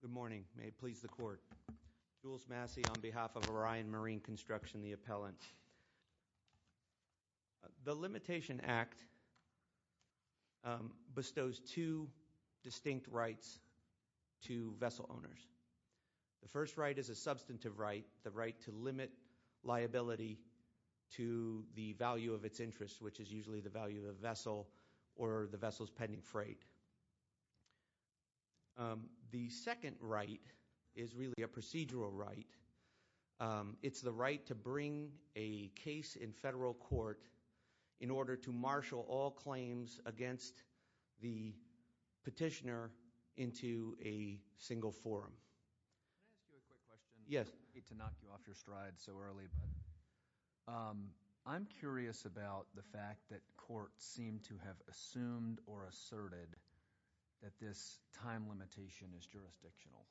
Good morning. May it please the court. Jules Massey on behalf of Orion Marine Construction, the appellant. The Limitation Act bestows two distinct rights to vessel owners. The first right is a substantive right, the right to limit liability to the value of its interest, which is usually the value of the vessel or the vessel's pending freight. The second right is really a procedural right. It's the right to bring a case in federal court in order to marshal all claims against the petitioner into a single forum. I hate to knock you off your stride so early, but I'm curious about the fact that courts seem to have assumed or asserted that this time limitation is jurisdictional.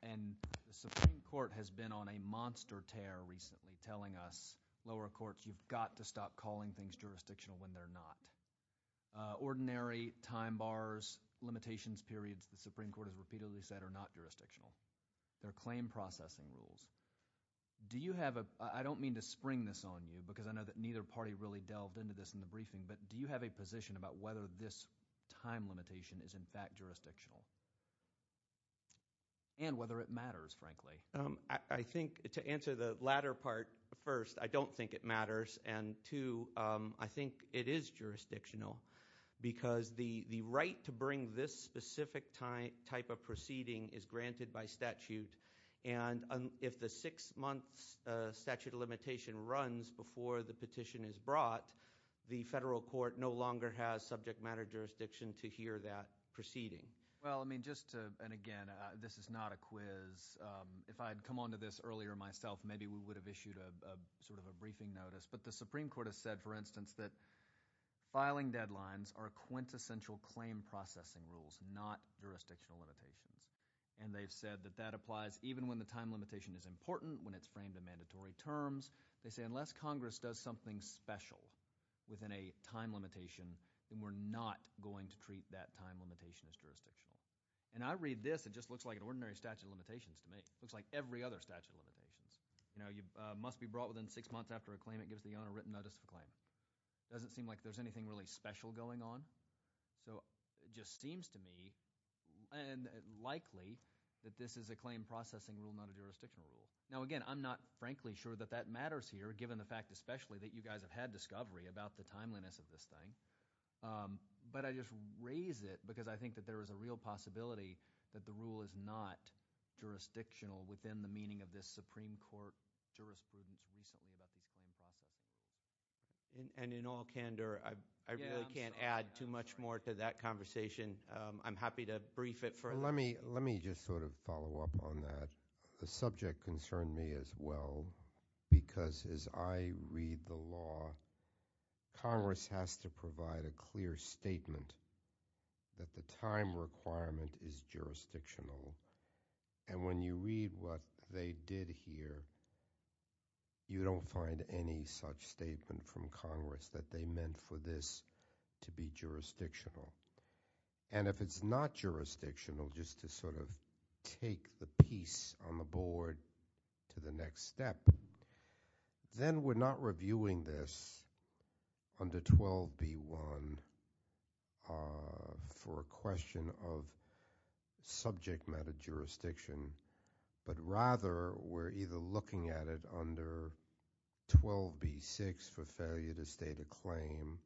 The Supreme Court has been on a monster tear recently telling us, lower courts, you've got to stop calling things jurisdictional when they're not. Ordinary time bars, limitations periods, as the Supreme Court has repeatedly said, are not jurisdictional. They're claim processing rules. I don't mean to spring this on you, because I know that neither party really delved into this in the briefing, but do you have a position about whether this time limitation is in fact jurisdictional and whether it matters, frankly? Jules Massey To answer the latter part, first, I don't think it matters, and two, I think it is jurisdictional because the right to bring this specific type of proceeding is granted by statute, and if the six-month statute of limitation runs before the petition is brought, the federal court no longer has subject matter jurisdiction to hear that proceeding. Stephen J. Levy Well, I mean, just to, and again, this is not a quiz. If I had come on to this earlier myself, maybe we would have issued sort of a briefing notice, but the Supreme Court has said, for instance, that filing deadlines are quintessential claim processing rules, not jurisdictional limitations, and they've said that that applies even when the time limitation is important, when it's framed in mandatory terms. They say, unless Congress does something special within a time limitation, then we're not going to treat that time limitation as jurisdictional, and I read this, it just looks like an ordinary statute of limitations to me. It looks like every other statute of limitations. You know, you must be brought within six months after a claim. It gives the owner written notice of a claim. It doesn't seem like there's anything really special going on, so it just seems to me, and likely, that this is a claim processing rule, not a jurisdictional rule. Now, again, I'm not, frankly, sure that that matters here, given the fact, especially, that you guys have had discovery about the timeliness of this thing, but I just raise it because I think that there is a real possibility that the rule is not jurisdictional within the meaning of this Supreme Court jurisprudence recently about this claim processing. And in all candor, I really can't add too much more to that conversation. I'm happy to brief it further. Let me just sort of follow up on that. The subject concerned me as well, because as I read the law, Congress has to provide a clear statement that the time requirement is jurisdictional, and when you read what they did here, you don't find any such statement from Congress that they meant for this to be jurisdictional. And if it's not jurisdictional, just to sort of take the piece on the board to the next step, then we're not reviewing this under 12B1 for a question of subject matter jurisdiction, but rather, we're either looking at it under 12B6 for failure to state a claim,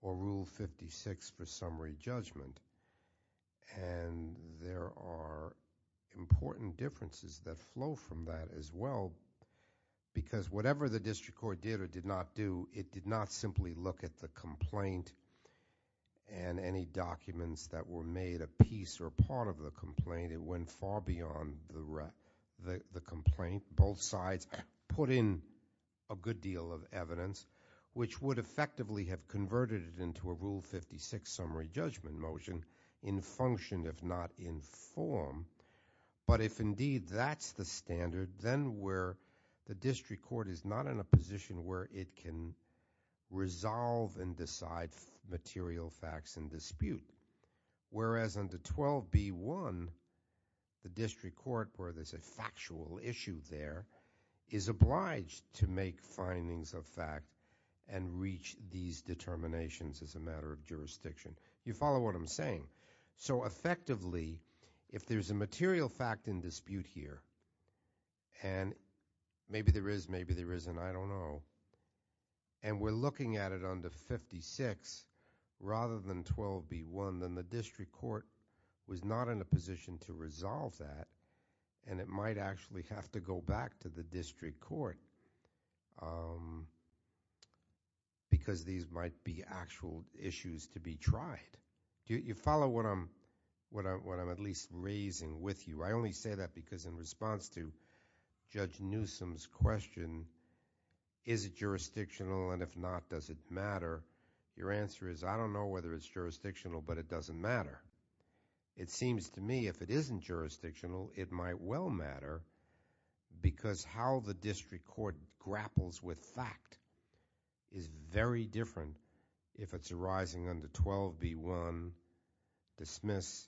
or Rule 56 for summary judgment. And there are important differences that flow from that as well, because whatever the district court did or did not do, it did not simply look at the complaint and any documents that were made a piece or part of the complaint. It went far beyond the complaint. Both sides put in a good deal of evidence, which would effectively have converted it into a Rule 56 summary judgment motion in function, if not in form. But if, indeed, that's the standard, then where the jurisdiction resolve and decide material facts in dispute, whereas under 12B1, the district court, where there's a factual issue there, is obliged to make findings of fact and reach these determinations as a matter of jurisdiction. You follow what I'm saying? So effectively, if there's a material fact in dispute here, and maybe there is, maybe there isn't, I don't know, and we're looking at it under 56, rather than 12B1, then the district court was not in a position to resolve that, and it might actually have to go back to the district court, because these might be actual issues to be tried. You follow what I'm at least raising with you? I only say that because in response to Judge Newsom's question, is it jurisdictional, and if not, does it matter? Your answer is, I don't know whether it's jurisdictional, but it doesn't matter. It seems to me, if it isn't jurisdictional, it might well matter, because how the district court grapples with fact is very different if it's arising under 12B1, dismiss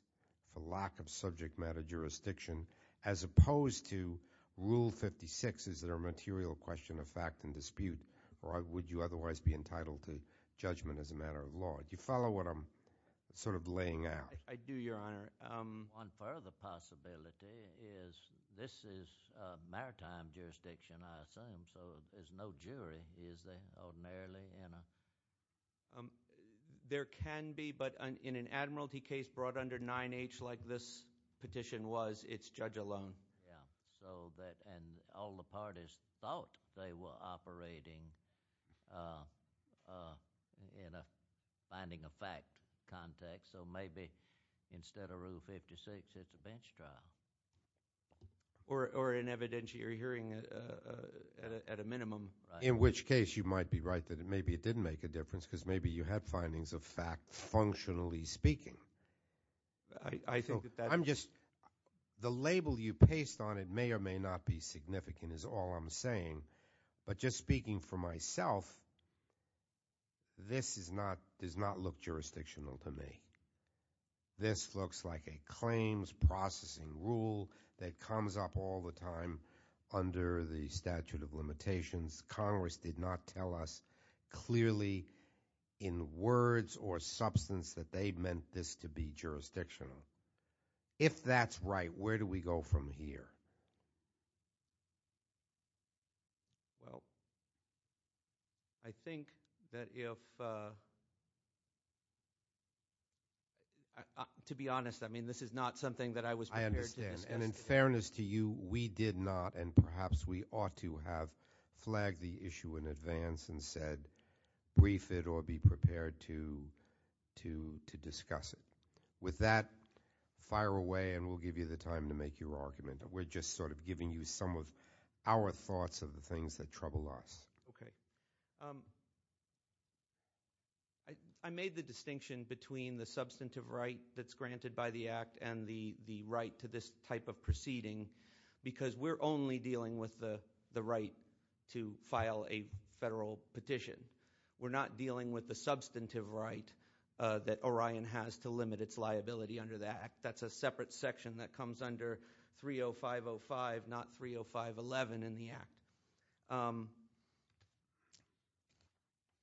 for lack of subject matter jurisdiction, as opposed to Rule 56, is there a material question of fact in dispute, or would you otherwise be entitled to judgment as a matter of law? Do you follow what I'm sort of laying out? I do, Your Honor. One further possibility is this is maritime jurisdiction, I assume, so there's no jury, is there, ordinarily? There can be, but in an admiralty case brought under 9H, like this petition was, it's judge alone. And all the parties thought they were operating in a finding of fact context, so maybe instead of Rule 56, it's a bench trial. Or an evidentiary hearing at a minimum. In which case, you might be right that maybe it didn't make a difference, because maybe you had findings of fact, functionally speaking. The label you paste on it may or may not be significant, is all I'm saying, but just speaking for myself, this does not look jurisdictional to me. This looks like a claims processing rule that comes up all the time under the statute of limitations. Congress did not tell us clearly in words or substance that they meant this to be jurisdictional. If that's right, where do we go from here? Well, I think that if, to be honest, I mean, this is not something that I was prepared to discuss. I understand, and in fairness to you, we did not, and perhaps we ought to have flagged the issue in advance and said, brief it or be prepared to discuss it. With that, fire away and we'll give you the time to make your argument. We're just sort of giving you some of our thoughts of the things that trouble us. Okay. I made the distinction between the substantive right that's granted by the Act and the right to this type of proceeding, because we're only dealing with the right to file a federal petition. We're not dealing with the substantive right that Orion has to limit its liability under the Act. That's a separate section that comes under 30505, not 30511 in the Act.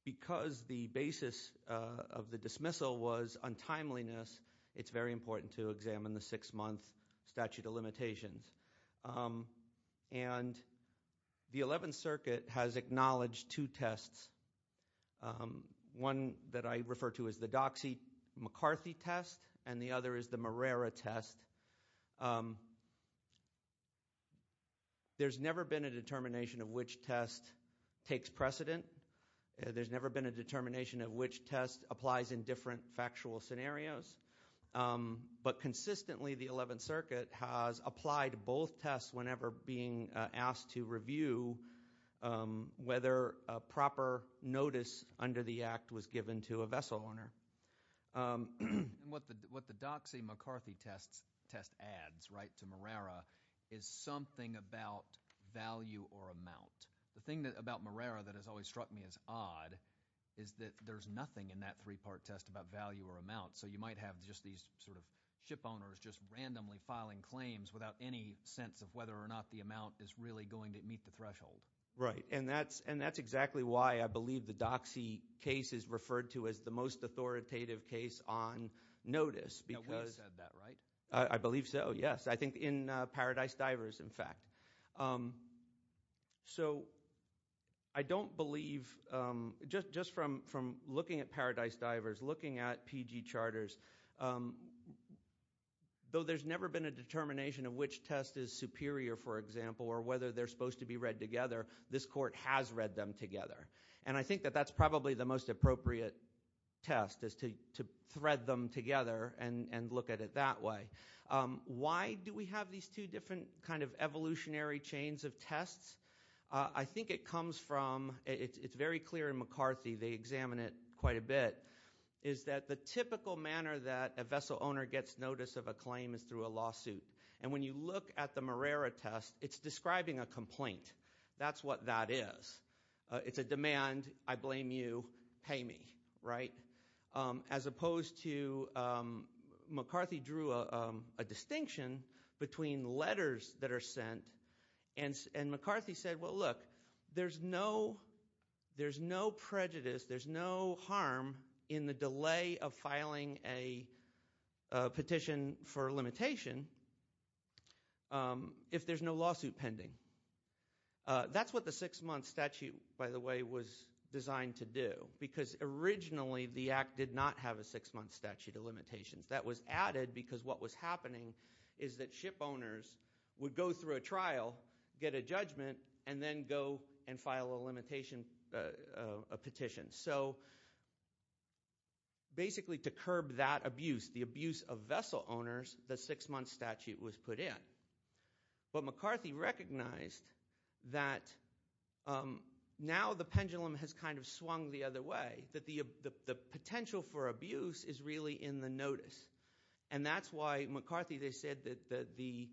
Because the basis of the dismissal was untimeliness, it's very important to examine the six-month statute of limitations. And the 11th Circuit has acknowledged two tests, one that I refer to as the Herrera test. There's never been a determination of which test takes precedent. There's never been a determination of which test applies in different factual scenarios. But consistently, the 11th Circuit has applied both tests whenever being asked to review whether proper notice under the Act was given to a vessel owner. What the Doxey-McCarthy test adds to Herrera is something about value or amount. The thing about Herrera that has always struck me as odd is that there's nothing in that three-part test about value or amount. So you might have just these sort of ship owners just randomly filing claims without any sense of whether or not the amount is really going to meet the threshold. Right, and that's exactly why I believe the Doxey case is referred to as the most authoritative case on notice. Yeah, Wade said that, right? I believe so, yes. I think in Paradise Divers, in fact. So I don't believe, just from looking at Paradise Divers, looking at PG charters, though there's never been a determination of which test is superior, for example, or whether they're supposed to be read together, this court has read them together. And I think that that's probably the most appropriate test is to thread them together and look at it that way. Why do we have these two different kind of evolutionary chains of tests? I think it comes from, it's very clear in McCarthy, they examine it quite a bit, is that the typical manner that a vessel owner gets notice of a claim is through a lawsuit. And when you look at the Marrera test, it's describing a complaint. That's what that is. It's a demand, I blame you, pay me, right? As opposed to, McCarthy drew a distinction between letters that are sent, and McCarthy said, well look, there's no prejudice, there's no harm in the delay of filing a petition for a limitation if there's no lawsuit pending. That's what the six-month statute, by the way, was designed to do, because originally the Act did not have a six-month statute of limitations. That was added because what was happening is that ship owners would go through a trial, get a judgment, and then go and file a limitation petition. So basically to curb that abuse, the abuse of vessel owners, the six-month statute was put in. But McCarthy recognized that now the pendulum has kind of swung the other way, that the potential for abuse is really in the notice. And that's why McCarthy said that the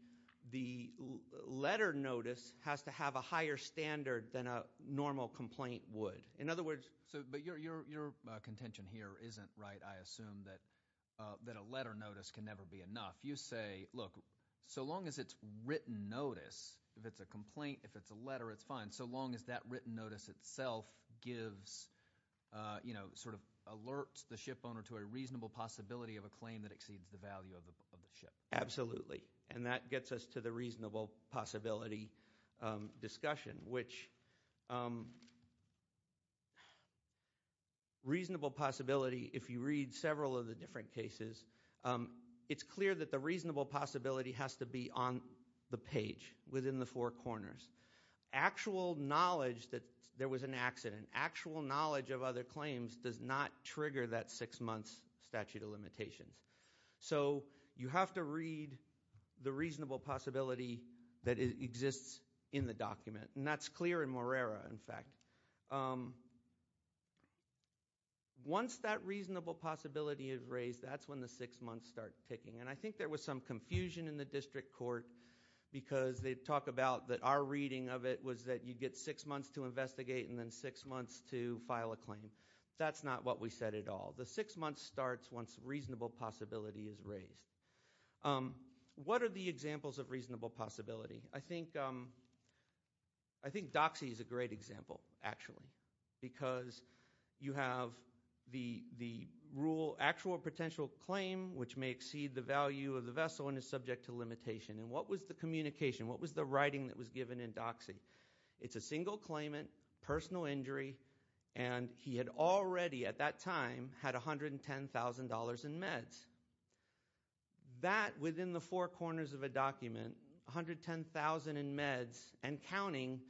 letter notice has to have a higher standard than a normal complaint would. In other words, but your contention here isn't right, I assume, that a letter notice can never be enough. You say, look, so long as it's written notice, if it's a complaint, if it's a letter, it's fine, so long as that written notice itself gives – sort of alerts the ship owner to a reasonable possibility of a claim that exceeds the value of the ship. Absolutely, and that gets us to the reasonable possibility discussion, which reasonable possibility, if you read several of the different cases, it's clear that the reasonable possibility has to be on the page within the four corners. Actual knowledge that there was an accident, actual knowledge of other claims, does not trigger that six-month statute of limitations. So you have to read the reasonable possibility that exists in the document, and that's clear in Morera, in fact. Once that reasonable possibility is raised, that's when the six months start ticking. And I think there was some confusion in the district court because they talk about that our reading of it was that you get six months to investigate and then six months to file a claim. That's not what we said at all. The six months starts once reasonable possibility is raised. What are the examples of reasonable possibility? I think DOCSI is a great example, actually, because you have the actual potential claim, which may exceed the value of the vessel and is subject to limitation. And what was the communication? What was the writing that was given in DOCSI? It's a single claimant, personal injury, and he had already at that time had $110,000 in meds. That, within the four corners of a document, $110,000 in meds and counting,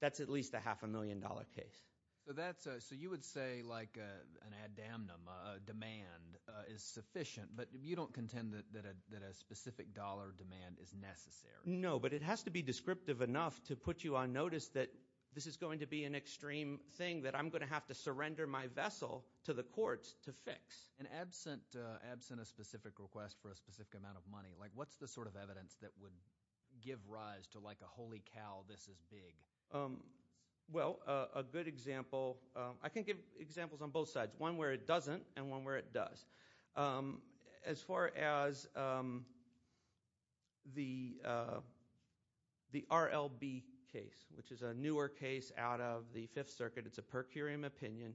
that's at least a half-a-million-dollar case. So you would say, like, an ad damnum, a demand is sufficient, but you don't contend that a specific dollar demand is necessary. No, but it has to be descriptive enough to put you on notice that this is going to be an extreme thing that I'm going to have to surrender my vessel to the courts to fix. And absent a specific request for a specific amount of money, what's the sort of evidence that would give rise to, like, a holy cow, this is big? Well, a good example – I can give examples on both sides, one where it doesn't and one where it does. As far as the RLB case, which is a newer case out of the Fifth Circuit, it's a per curiam opinion.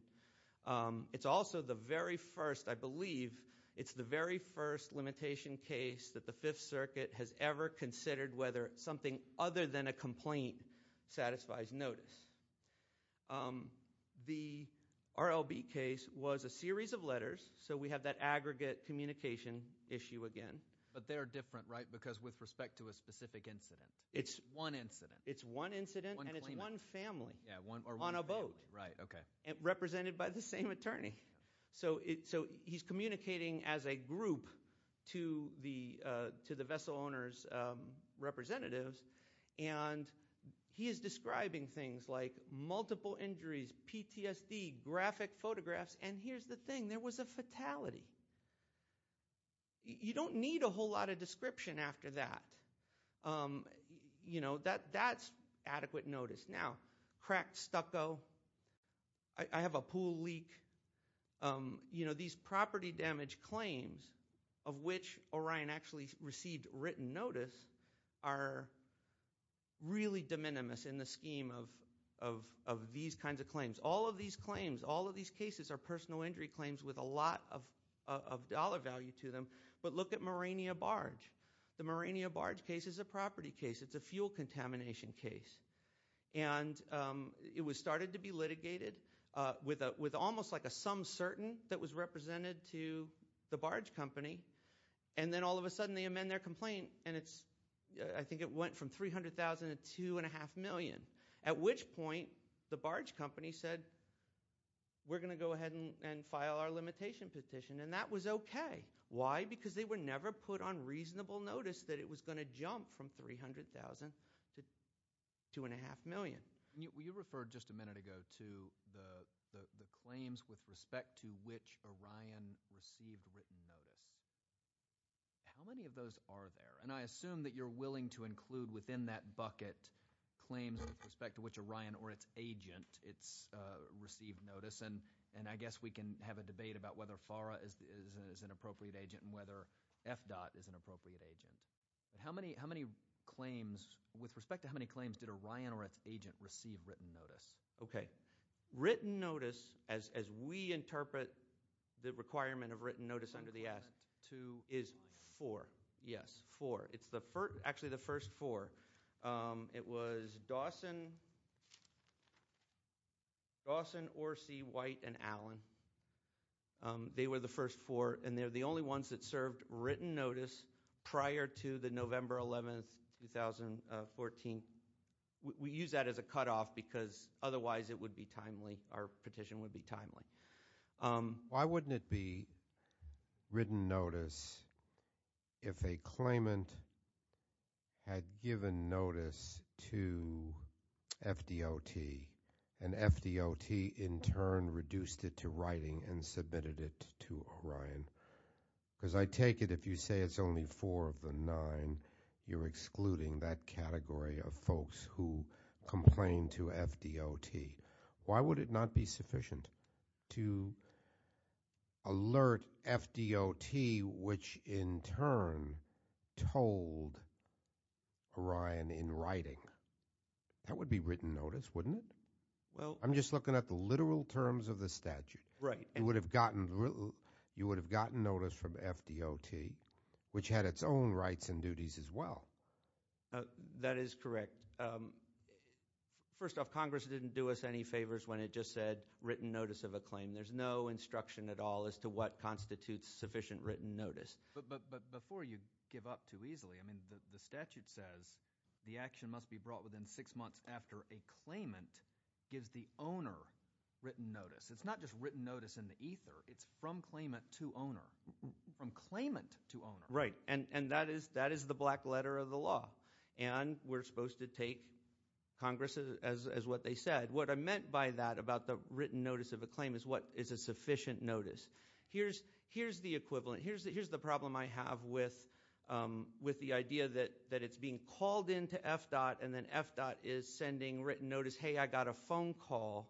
It's also the very first – I believe it's the very first limitation case that the Fifth Circuit has ever considered whether something other than a complaint satisfies notice. The RLB case was a series of letters, so we have that aggregate communication issue again. But they're different, right, because with respect to a specific incident. It's one incident. It's one incident, and it's one family on a boat represented by the same attorney. So he's communicating as a group to the vessel owner's representatives, and he is describing things like multiple injuries, PTSD, graphic photographs, and here's the thing. There was a fatality. You don't need a whole lot of description after that. That's adequate notice. Now, cracked stucco. I have a pool leak. These property damage claims of which Orion actually received written notice are really de minimis in the scheme of these kinds of claims. All of these claims, all of these cases are personal injury claims with a lot of dollar value to them. But look at Morania Barge. The Morania Barge case is a property case. It's a fuel contamination case. And it started to be litigated with almost like a some certain that was represented to the barge company, and then all of a sudden they amend their complaint, and I think it went from $300,000 to $2.5 million, at which point the barge company said we're going to go ahead and file our limitation petition, and that was okay. Why? Because they were never put on reasonable notice that it was going to jump from $300,000 to $2.5 million. You referred just a minute ago to the claims with respect to which Orion received written notice. How many of those are there? And I assume that you're willing to include within that bucket claims with respect to which Orion or its agent received notice, and I guess we can have a debate about whether FARA is an appropriate agent and whether FDOT is an appropriate agent. With respect to how many claims did Orion or its agent receive written notice? Okay. Written notice, as we interpret the requirement of written notice under the Act, is four. Yes, four. It's actually the first four. It was Dawson, Orsi, White, and Allen. They were the first four, and they're the only ones that served written notice prior to the November 11th, 2014. We use that as a cutoff because otherwise it would be timely. Our petition would be timely. Why wouldn't it be written notice if a claimant had given notice to FDOT, and FDOT in turn reduced it to writing and submitted it to Orion? Because I take it if you say it's only four of the nine, you're excluding that category of folks who complained to FDOT. Why would it not be sufficient to alert FDOT, which in turn told Orion in writing? That would be written notice, wouldn't it? I'm just looking at the literal terms of the statute. You would have gotten notice from FDOT, which had its own rights and duties as well. That is correct. First off, Congress didn't do us any favors when it just said written notice of a claim. There's no instruction at all as to what constitutes sufficient written notice. But before you give up too easily, I mean the statute says the action must be brought within six months after a claimant gives the owner written notice. It's not just written notice in the ether. It's from claimant to owner, from claimant to owner. Right, and that is the black letter of the law. And we're supposed to take Congress as what they said. What I meant by that about the written notice of a claim is what is a sufficient notice. Here's the equivalent. Here's the problem I have with the idea that it's being called into FDOT, and then FDOT is sending written notice, hey, I got a phone call.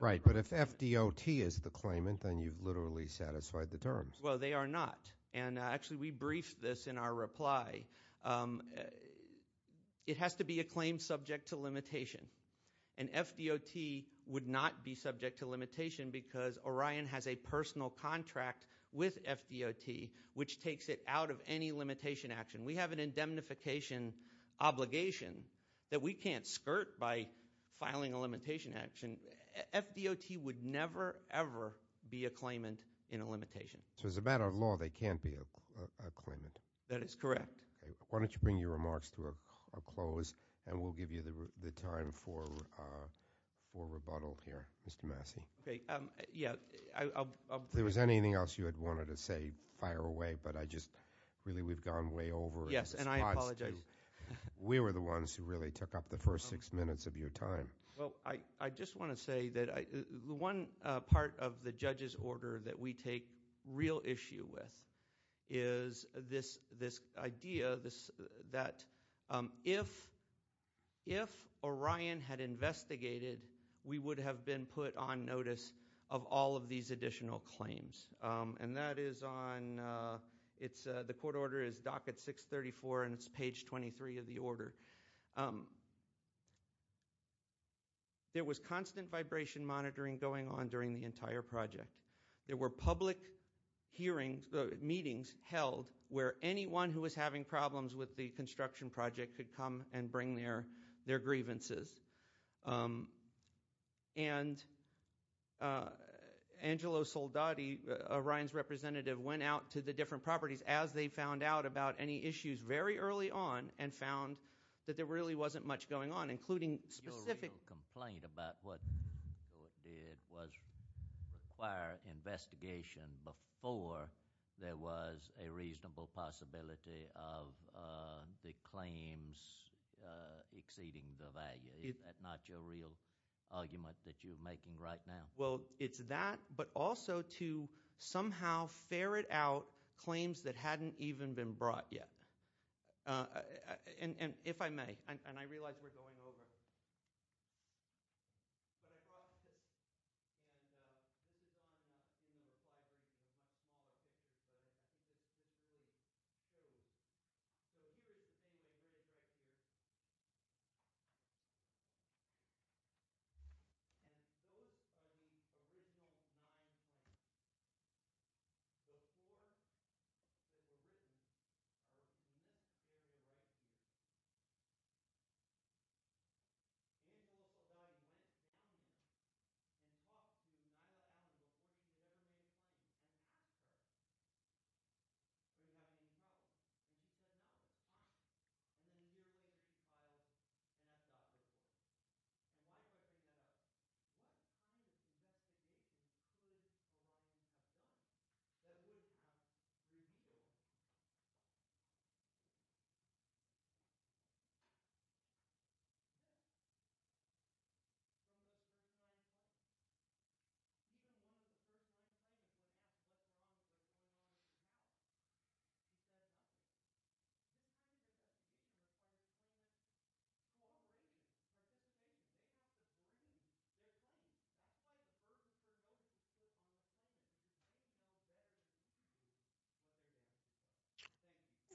Right, but if FDOT is the claimant, then you've literally satisfied the terms. Well, they are not. And actually we briefed this in our reply. It has to be a claim subject to limitation. And FDOT would not be subject to limitation because Orion has a personal contract with FDOT, which takes it out of any limitation action. We have an indemnification obligation that we can't skirt by filing a limitation action. FDOT would never, ever be a claimant in a limitation. So as a matter of law, they can't be a claimant. That is correct. Okay, why don't you bring your remarks to a close, and we'll give you the time for rebuttal here. Mr. Massey. Okay, yeah, I'll- If there was anything else you had wanted to say, fire away, but I just, really we've gone way over the spots to- Yes, and I apologize. We were the ones who really took up the first six minutes of your time. Well, I just want to say that the one part of the judge's order that we take real issue with is this idea that if Orion had investigated, we would have been put on notice of all of these additional claims. And that is on, the court order is docket 634, and it's page 23 of the order. There was constant vibration monitoring going on during the entire project. There were public hearings, meetings held where anyone who was having problems with the construction project could come and bring their grievances. And Angelo Soldati, Orion's representative, went out to the different properties as they found out about any issues very early on, and found that there really wasn't much going on, including specific- require investigation before there was a reasonable possibility of the claims exceeding the value. Is that not your real argument that you're making right now? Well, it's that, but also to somehow ferret out claims that hadn't even been brought yet. And if I may, and I realize we're going over. But I apologize. And we're going to have to do a five-minute break. I have a question for you. Okay. So here's the thing that we're going to have to do. And first, I need a reasonable amount of time. Before we begin, I just want you to know that we are regarding this as a community issue. And we talk to the entire community on a daily basis. We have been taught, and we've been taught this time, and we've been given this advice and that guidance. And I don't think that any of us in this room have been given this advice, but we have received it.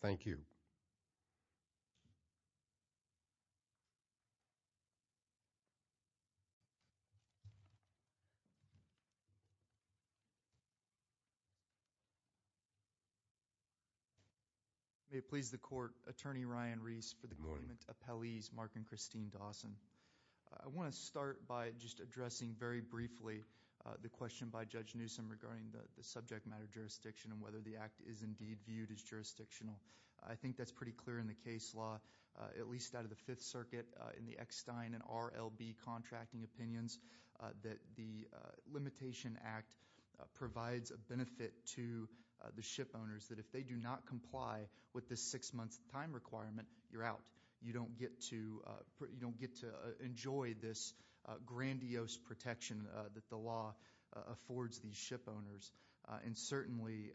Thank you. May it please the Court, Attorney Ryan Reese for the Appellees, Mark and Christine Dawson. I want to start by just addressing very briefly the question by Judge Newsom regarding the subject matter jurisdiction and whether the Act is indeed viewed as jurisdictional. I think that's pretty clear in the case law, at least out of the Fifth Circuit in the Eckstein and RLB contracting opinions, that the Limitation Act provides a benefit to the ship owners that if they do not comply with the six-month time requirement, you're out. You don't get to enjoy this grandiose protection that the law affords these ship owners. And certainly,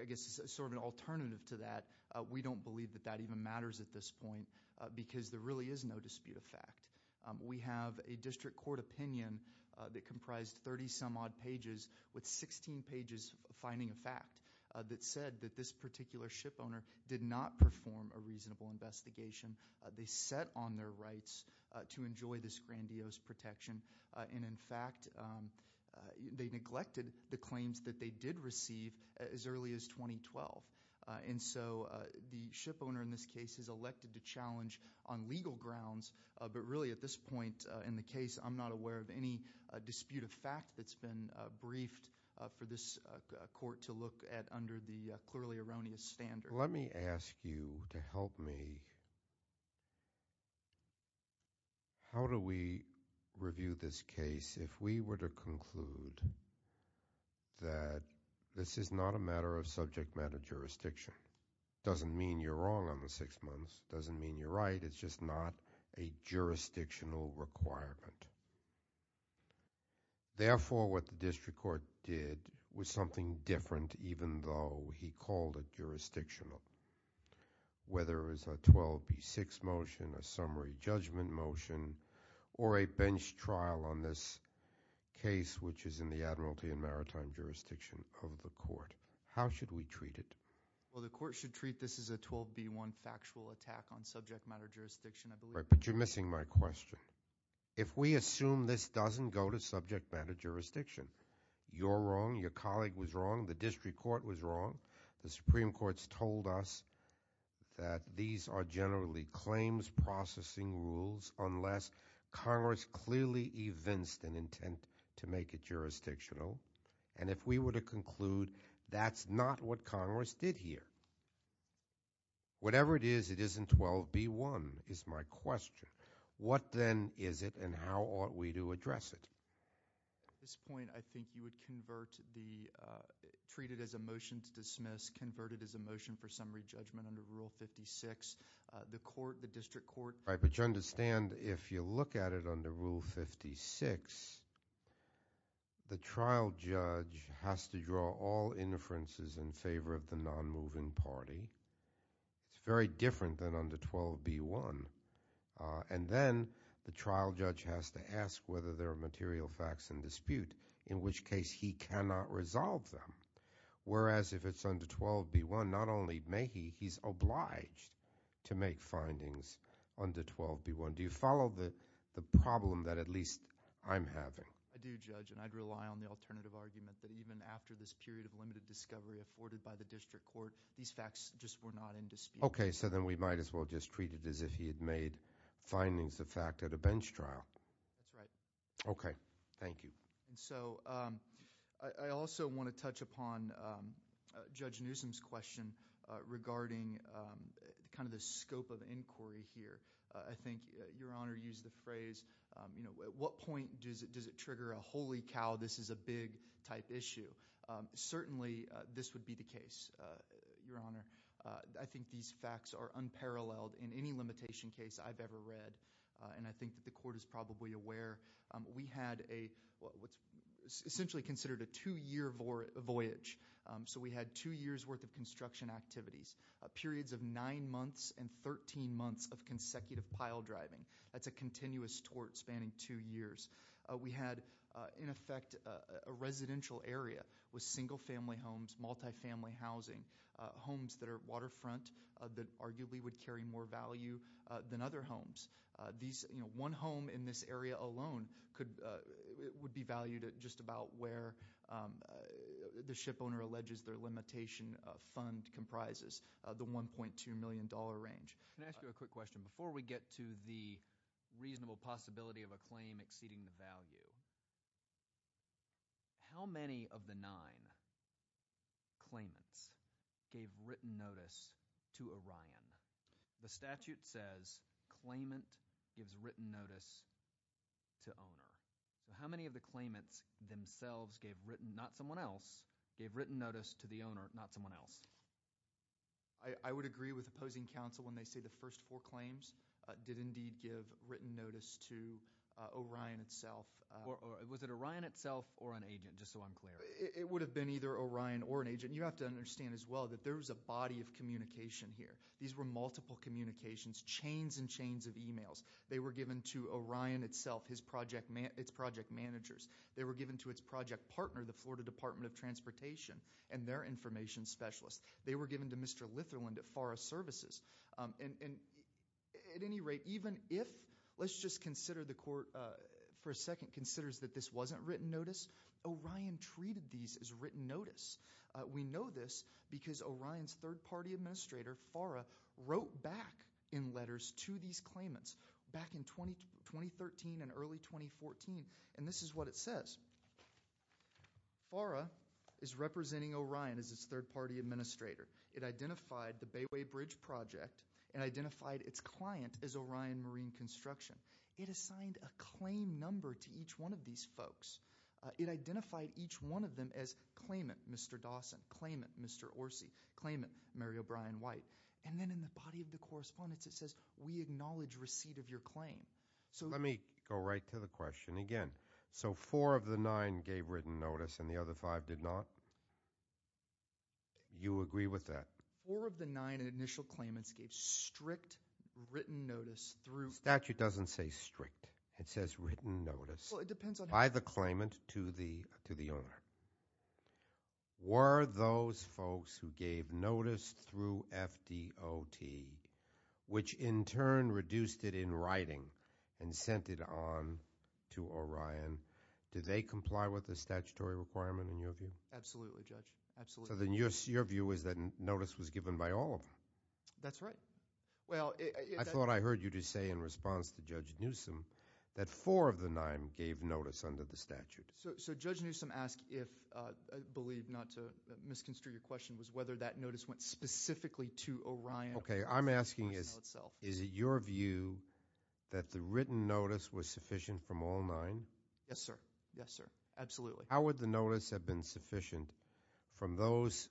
I guess as sort of an alternative to that, we don't believe that that even matters at this point because there really is no dispute of fact. We have a district court opinion that comprised 30-some-odd pages with 16 pages finding a fact that said that this particular ship owner did not perform a reasonable investigation. They set on their rights to enjoy this grandiose protection. And in fact, they neglected the claims that they did receive as early as 2012. And so the ship owner in this case is elected to challenge on legal grounds, but really at this point in the case, I'm not aware of any dispute of fact that's been briefed for this court to look at under the clearly erroneous standard. Let me ask you to help me. How do we review this case if we were to conclude that this is not a matter of subject matter jurisdiction? It doesn't mean you're wrong on the six months. It doesn't mean you're right. It's just not a jurisdictional requirement. Therefore, what the district court did was something different even though he called it jurisdictional, whether it was a 12B6 motion, a summary judgment motion, or a bench trial on this case, which is in the admiralty and maritime jurisdiction of the court. How should we treat it? Well, the court should treat this as a 12B1 factual attack on subject matter jurisdiction, I believe. But you're missing my question. If we assume this doesn't go to subject matter jurisdiction, you're wrong, your colleague was wrong, the district court was wrong. The Supreme Court's told us that these are generally claims processing rules unless Congress clearly evinced an intent to make it jurisdictional. And if we were to conclude that's not what Congress did here, whatever it is, it isn't 12B1 is my question. What then is it and how ought we to address it? At this point, I think you would treat it as a motion to dismiss, convert it as a motion for summary judgment under Rule 56. The court, the district court. But you understand if you look at it under Rule 56, the trial judge has to draw all inferences in favor of the non-moving party. It's very different than under 12B1. And then the trial judge has to ask whether there are material facts in dispute in which case he cannot resolve them. Whereas if it's under 12B1, not only may he, he's obliged to make findings under 12B1. Do you follow the problem that at least I'm having? I do, Judge, and I'd rely on the alternative argument that even after this period of limited discovery afforded by the district court, these facts just were not in dispute. Okay. So then we might as well just treat it as if he had made findings of fact at a bench trial. That's right. Okay. Thank you. And so I also want to touch upon Judge Newsom's question regarding kind of the scope of inquiry here. I think Your Honor used the phrase, you know, at what point does it trigger a holy cow, this is a big type issue? Certainly this would be the case, Your Honor. I think these facts are unparalleled in any limitation case I've ever read, and I think that the court is probably aware. We had what's essentially considered a two-year voyage. So we had two years' worth of construction activities, periods of nine months and 13 months of consecutive pile driving. That's a continuous tort spanning two years. We had, in effect, a residential area with single-family homes, multi-family housing, homes that are waterfront that arguably would carry more value than other homes. One home in this area alone would be valued at just about where the shipowner alleges their limitation fund comprises, the $1.2 million range. Can I ask you a quick question? Before we get to the reasonable possibility of a claim exceeding the value, how many of the nine claimants gave written notice to Orion? The statute says claimant gives written notice to owner. How many of the claimants themselves gave written, not someone else, gave written notice to the owner, not someone else? I would agree with opposing counsel when they say the first four claims did indeed give written notice to Orion itself. Was it Orion itself or an agent, just so I'm clear? It would have been either Orion or an agent. You have to understand as well that there was a body of communication here. These were multiple communications, chains and chains of emails. They were given to Orion itself, its project managers. They were given to its project partner, the Florida Department of Transportation, and their information specialist. They were given to Mr. Litherland at Forest Services. At any rate, even if, let's just consider the court for a second, considers that this wasn't written notice, Orion treated these as written notice. We know this because Orion's third-party administrator, FARA, wrote back in letters to these claimants back in 2013 and early 2014, and this is what it says. FARA is representing Orion as its third-party administrator. It identified the Bayway Bridge Project and identified its client as Orion Marine Construction. It assigned a claim number to each one of these folks. It identified each one of them as claimant Mr. Dawson, claimant Mr. Orsi, claimant Mary O'Brien White. And then in the body of the correspondence it says, we acknowledge receipt of your claim. Let me go right to the question again. So four of the nine gave written notice and the other five did not? You agree with that? Four of the nine initial claimants gave strict written notice through. The statute doesn't say strict. It says written notice by the claimant to the owner. Were those folks who gave notice through FDOT, which in turn reduced it in writing and sent it on to Orion, do they comply with the statutory requirement in your view? Absolutely, Judge. Absolutely. So then your view is that notice was given by all of them? That's right. I thought I heard you just say in response to Judge Newsom that four of the nine gave notice under the statute. So Judge Newsom asked if, I believe not to misconstrue your question, was whether that notice went specifically to Orion. Okay. I'm asking is it your view that the written notice was sufficient from all nine? Yes, sir. Yes, sir. Absolutely. How would the notice have been sufficient from those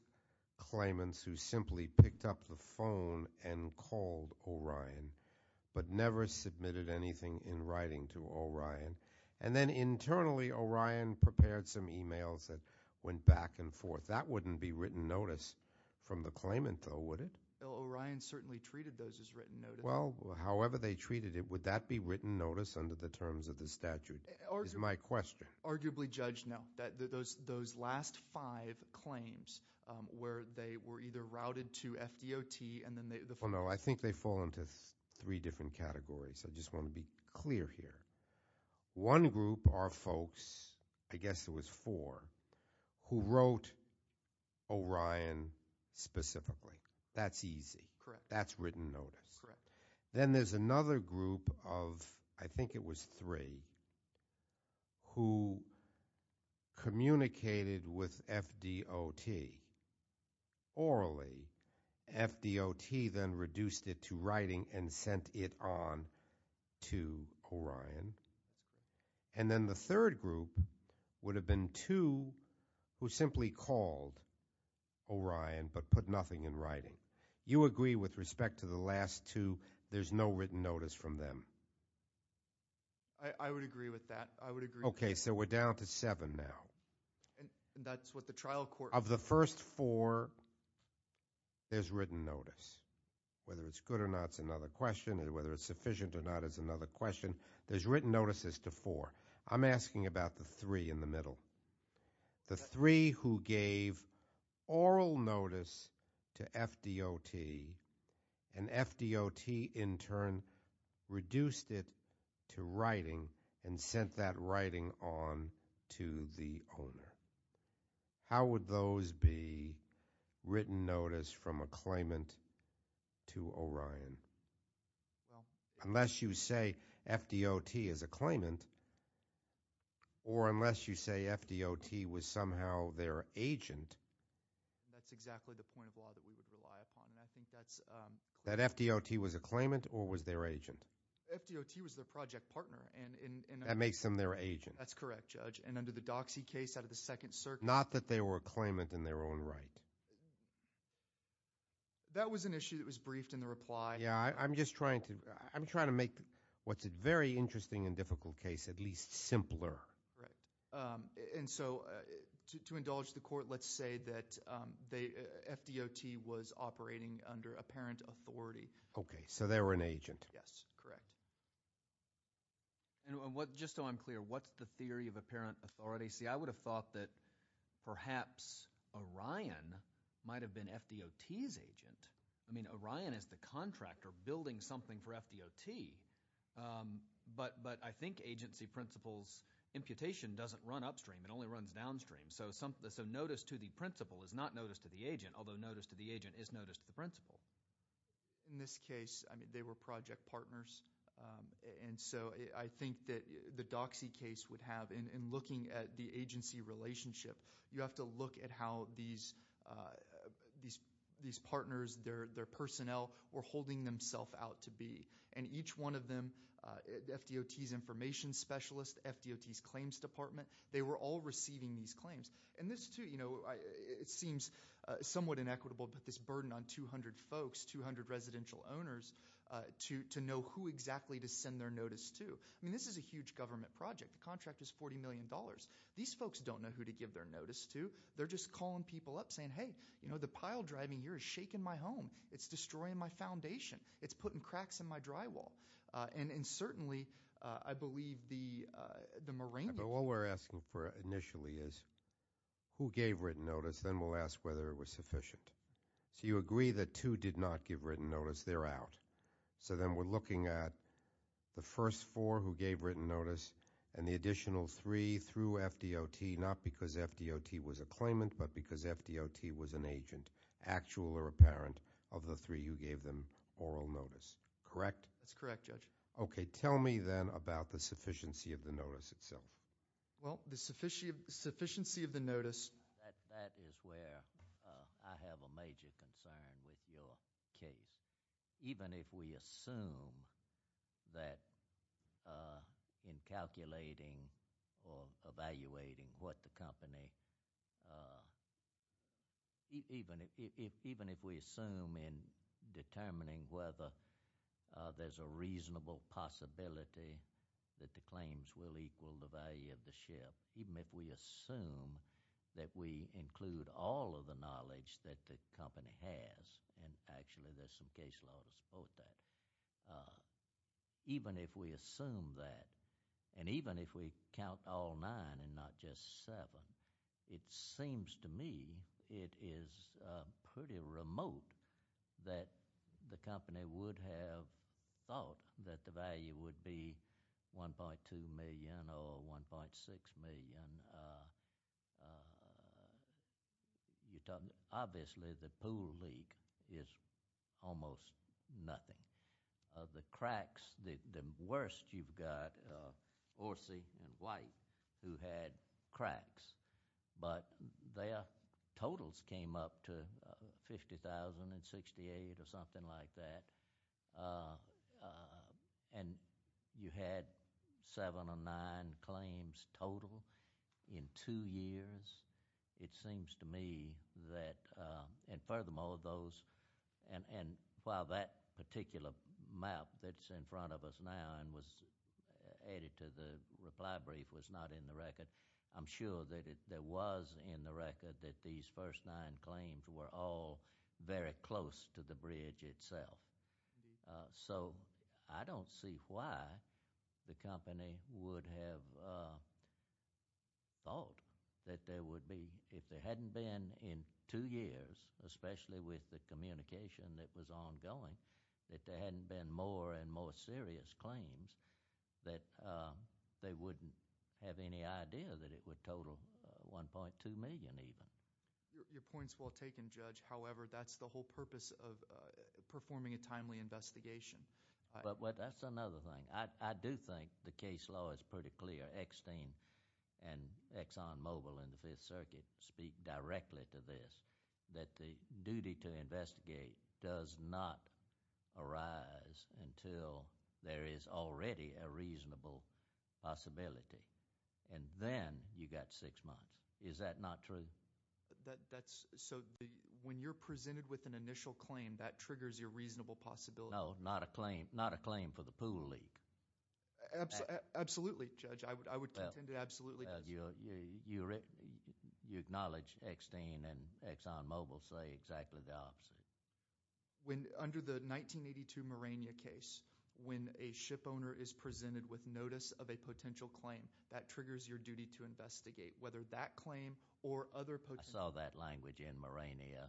claimants who simply picked up the phone and called Orion but never submitted anything in writing to Orion? And then internally Orion prepared some e-mails that went back and forth. That wouldn't be written notice from the claimant though, would it? Orion certainly treated those as written notice. Well, however they treated it, would that be written notice under the terms of the statute is my question. Arguably, Judge, no. Those last five claims where they were either routed to FDOT and then they- Well, no, I think they fall into three different categories. I just want to be clear here. One group are folks, I guess it was four, who wrote Orion specifically. That's easy. That's written notice. Then there's another group of, I think it was three, who communicated with FDOT orally. FDOT then reduced it to writing and sent it on to Orion. And then the third group would have been two who simply called Orion but put nothing in writing. You agree with respect to the last two, there's no written notice from them? I would agree with that. I would agree with that. Okay, so we're down to seven now. That's what the trial court- Of the first four, there's written notice. Whether it's good or not is another question. Whether it's sufficient or not is another question. There's written notices to four. I'm asking about the three in the middle. The three who gave oral notice to FDOT and FDOT in turn reduced it to writing and sent that writing on to the owner. How would those be written notice from a claimant to Orion? Unless you say FDOT is a claimant or unless you say FDOT was somehow their agent. That's exactly the point of law that we would rely upon. That FDOT was a claimant or was their agent? FDOT was their project partner. That makes them their agent. That's correct, Judge. And under the Doxy case out of the Second Circuit- Not that they were a claimant in their own right. That was an issue that was briefed in the reply. Yeah, I'm just trying to make what's a very interesting and difficult case at least simpler. Right. And so to indulge the court, let's say that FDOT was operating under apparent authority. Okay, so they were an agent. Yes, correct. And just so I'm clear, what's the theory of apparent authority? See, I would have thought that perhaps Orion might have been FDOT's agent. I mean, Orion is the contractor building something for FDOT. But I think agency principles, imputation doesn't run upstream. It only runs downstream. So notice to the principal is not notice to the agent, although notice to the agent is notice to the principal. In this case, they were project partners. And so I think that the Doxy case would have, in looking at the agency relationship, you have to look at how these partners, their personnel, were holding themselves out to be. And each one of them, FDOT's information specialist, FDOT's claims department, they were all receiving these claims. And this too, it seems somewhat inequitable, but this burden on 200 folks, 200 residential owners, to know who exactly to send their notice to. I mean, this is a huge government project. The contract is $40 million. These folks don't know who to give their notice to. They're just calling people up saying, hey, you know, the pile driving here is shaking my home. It's destroying my foundation. It's putting cracks in my drywall. And certainly I believe the Moranian. But what we're asking for initially is who gave written notice? Then we'll ask whether it was sufficient. So you agree that two did not give written notice. They're out. So then we're looking at the first four who gave written notice and the additional three through FDOT, not because FDOT was a claimant but because FDOT was an agent, actual or apparent, of the three who gave them oral notice. Correct? That's correct, Judge. Okay. Tell me then about the sufficiency of the notice itself. Well, the sufficiency of the notice. That is where I have a major concern with your case. Even if we assume that in calculating or evaluating what the company, even if we assume in determining whether there's a reasonable possibility that the claims will equal the value of the ship, even if we assume that we include all of the knowledge that the company has, and actually there's some case law to support that, even if we assume that and even if we count all nine and not just seven, it seems to me it is pretty remote that the company would have thought that the value would be $1.2 million or $1.6 million. Obviously, the pool leak is almost nothing. The cracks, the worst you've got, Orsi and White, who had cracks, but their totals came up to $50,000 and $68,000 or something like that, and you had seven or nine claims total in two years. It seems to me that, and furthermore those, and while that particular map that's in front of us now and was added to the reply brief was not in the record, I'm sure that it was in the record that these first nine claims were all very close to the bridge itself. So I don't see why the company would have thought that there would be, if there hadn't been in two years, especially with the communication that was ongoing, that there hadn't been more and more serious claims, that they wouldn't have any idea that it would total $1.2 million even. Your point's well taken, Judge. However, that's the whole purpose of performing a timely investigation. But that's another thing. I do think the case law is pretty clear. Eckstein and Exxon Mobil and the Fifth Circuit speak directly to this, that the duty to investigate does not arise until there is already a reasonable possibility, and then you've got six months. Is that not true? So when you're presented with an initial claim, that triggers your reasonable possibility? No, not a claim for the pool leak. Absolutely, Judge. I would contend it absolutely does. You acknowledge Eckstein and Exxon Mobil say exactly the opposite. Under the 1982 Morania case, when a shipowner is presented with notice of a potential claim, that triggers your duty to investigate, whether that claim or other potential... I saw that language in Morania,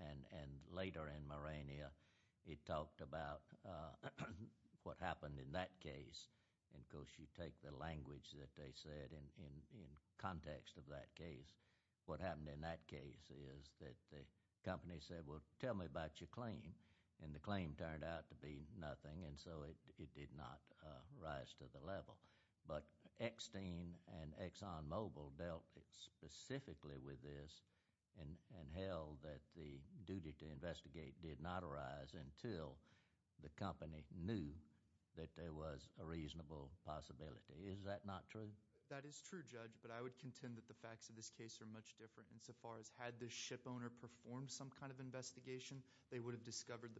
and later in Morania it talked about what happened in that case. Of course, you take the language that they said in context of that case. What happened in that case is that the company said, well, tell me about your claim, and the claim turned out to be nothing, and so it did not rise to the level. But Eckstein and Exxon Mobil dealt specifically with this and held that the duty to investigate did not arise until the company knew that there was a reasonable possibility. Is that not true? That is true, Judge, but I would contend that the facts of this case are much different, insofar as had the shipowner performed some kind of investigation, they would have discovered...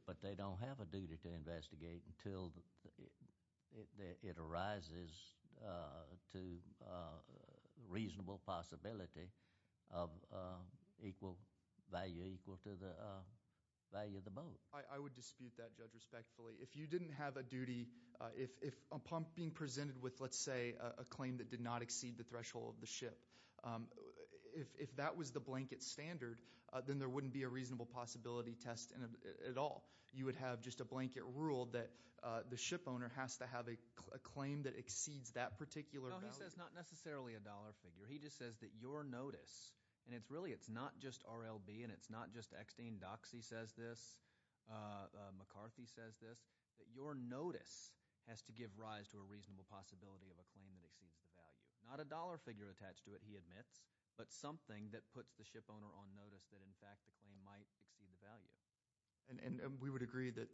to reasonable possibility of equal value, equal to the value of the boat. I would dispute that, Judge, respectfully. If you didn't have a duty... If a pump being presented with, let's say, a claim that did not exceed the threshold of the ship, if that was the blanket standard, then there wouldn't be a reasonable possibility test at all. You would have just a blanket rule that the shipowner has to have a claim that exceeds that particular value. Well, he says not necessarily a dollar figure. He just says that your notice, and really, it's not just RLB, and it's not just Eckstein. Doxey says this. McCarthy says this. That your notice has to give rise to a reasonable possibility of a claim that exceeds the value. Not a dollar figure attached to it, he admits, but something that puts the shipowner on notice that, in fact, the claim might exceed the value. We would agree that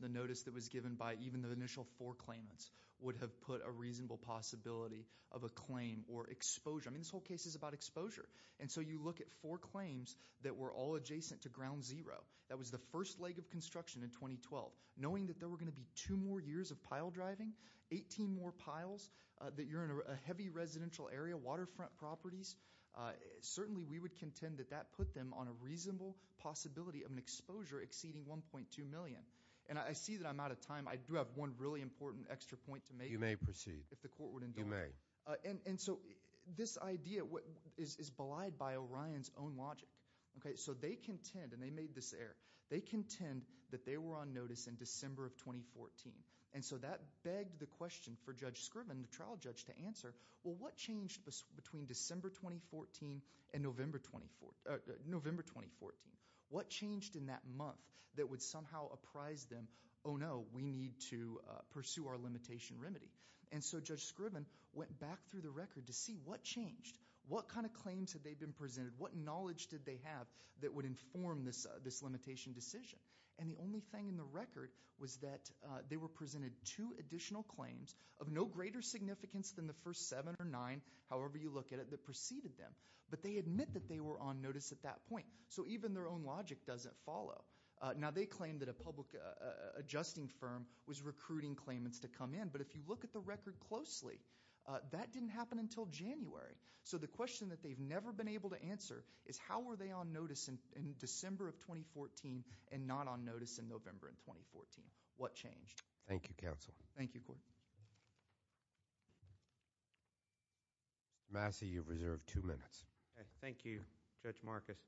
the notice that was given by even the initial four claimants would have put a reasonable possibility of a claim or exposure. I mean, this whole case is about exposure, and so you look at four claims that were all adjacent to Ground Zero. That was the first leg of construction in 2012. Knowing that there were going to be two more years of pile driving, 18 more piles, that you're in a heavy residential area, waterfront properties, certainly we would contend that that put them on a reasonable possibility of an exposure exceeding $1.2 million. And I see that I'm out of time. I do have one really important extra point to make. You may proceed. If the court would indulge me. You may. And so this idea is belied by Orion's own logic. So they contend, and they made this error, they contend that they were on notice in December of 2014, and so that begged the question for Judge Scriven, the trial judge, to answer, well, what changed between December 2014 and November 2014? What changed in that month that would somehow apprise them, oh, no, we need to pursue our limitation remedy? And so Judge Scriven went back through the record to see what changed. What kind of claims had they been presented? What knowledge did they have that would inform this limitation decision? And the only thing in the record was that they were presented two additional claims of no greater significance than the first seven or nine, however you look at it, that preceded them. But they admit that they were on notice at that point. So even their own logic doesn't follow. Now, they claim that a public adjusting firm was recruiting claimants to come in. But if you look at the record closely, that didn't happen until January. So the question that they've never been able to answer is how were they on notice in December of 2014 and not on notice in November of 2014? What changed? Thank you, counsel. Thank you, Court. Massey, you've reserved two minutes. Thank you, Judge Marcus.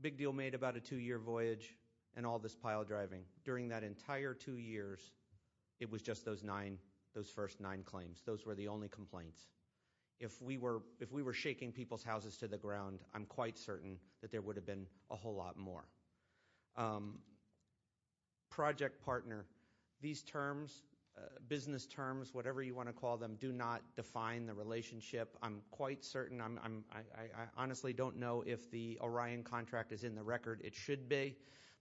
Big deal made about a two-year voyage and all this pile driving. During that entire two years, it was just those nine, those first nine claims. Those were the only complaints. If we were shaking people's houses to the ground, I'm quite certain that there would have been a whole lot more. Project partner, these terms, business terms, whatever you want to call them, do not define the relationship. I'm quite certain. I honestly don't know if the Orion contract is in the record. It should be.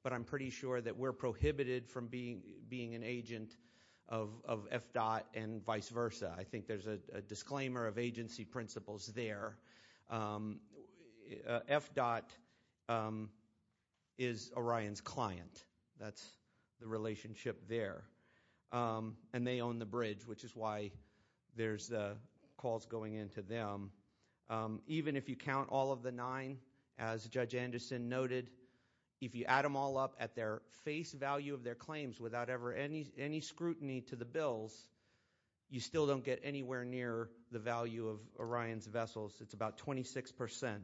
But I'm pretty sure that we're prohibited from being an agent of FDOT and vice versa. I think there's a disclaimer of agency principles there. FDOT is Orion's client. That's the relationship there. And they own the bridge, which is why there's calls going in to them. Even if you count all of the nine, as Judge Anderson noted, if you add them all up at their face value of their claims without ever any scrutiny to the bills, you still don't get anywhere near the value of Orion's vessels. It's about 26%.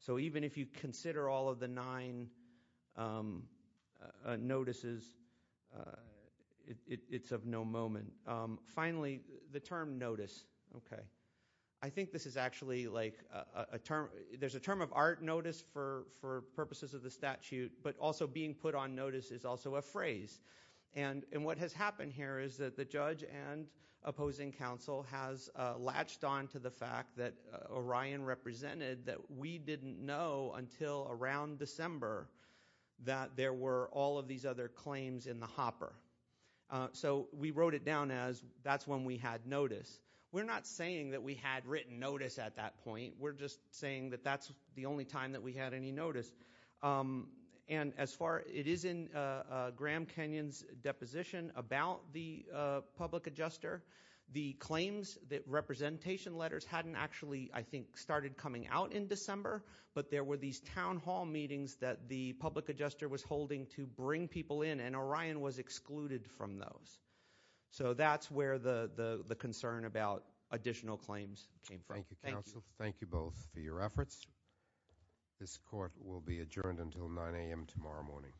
So even if you consider all of the nine notices, it's of no moment. Finally, the term notice. Okay. I think this is actually like a term. There's a term of art notice for purposes of the statute, but also being put on notice is also a phrase. And what has happened here is that the judge and opposing counsel has latched on to the fact that Orion represented that we didn't know until around December that there were all of these other claims in the hopper. So we wrote it down as that's when we had notice. We're not saying that we had written notice at that point. We're just saying that that's the only time that we had any notice. And as far – it is in Graham Kenyon's deposition about the public adjuster, the claims that representation letters hadn't actually, I think, started coming out in December, but there were these town hall meetings that the public adjuster was holding to bring people in, and Orion was excluded from those. So that's where the concern about additional claims came from. Thank you, counsel. Thank you both for your efforts. This court will be adjourned until 9 a.m. tomorrow morning.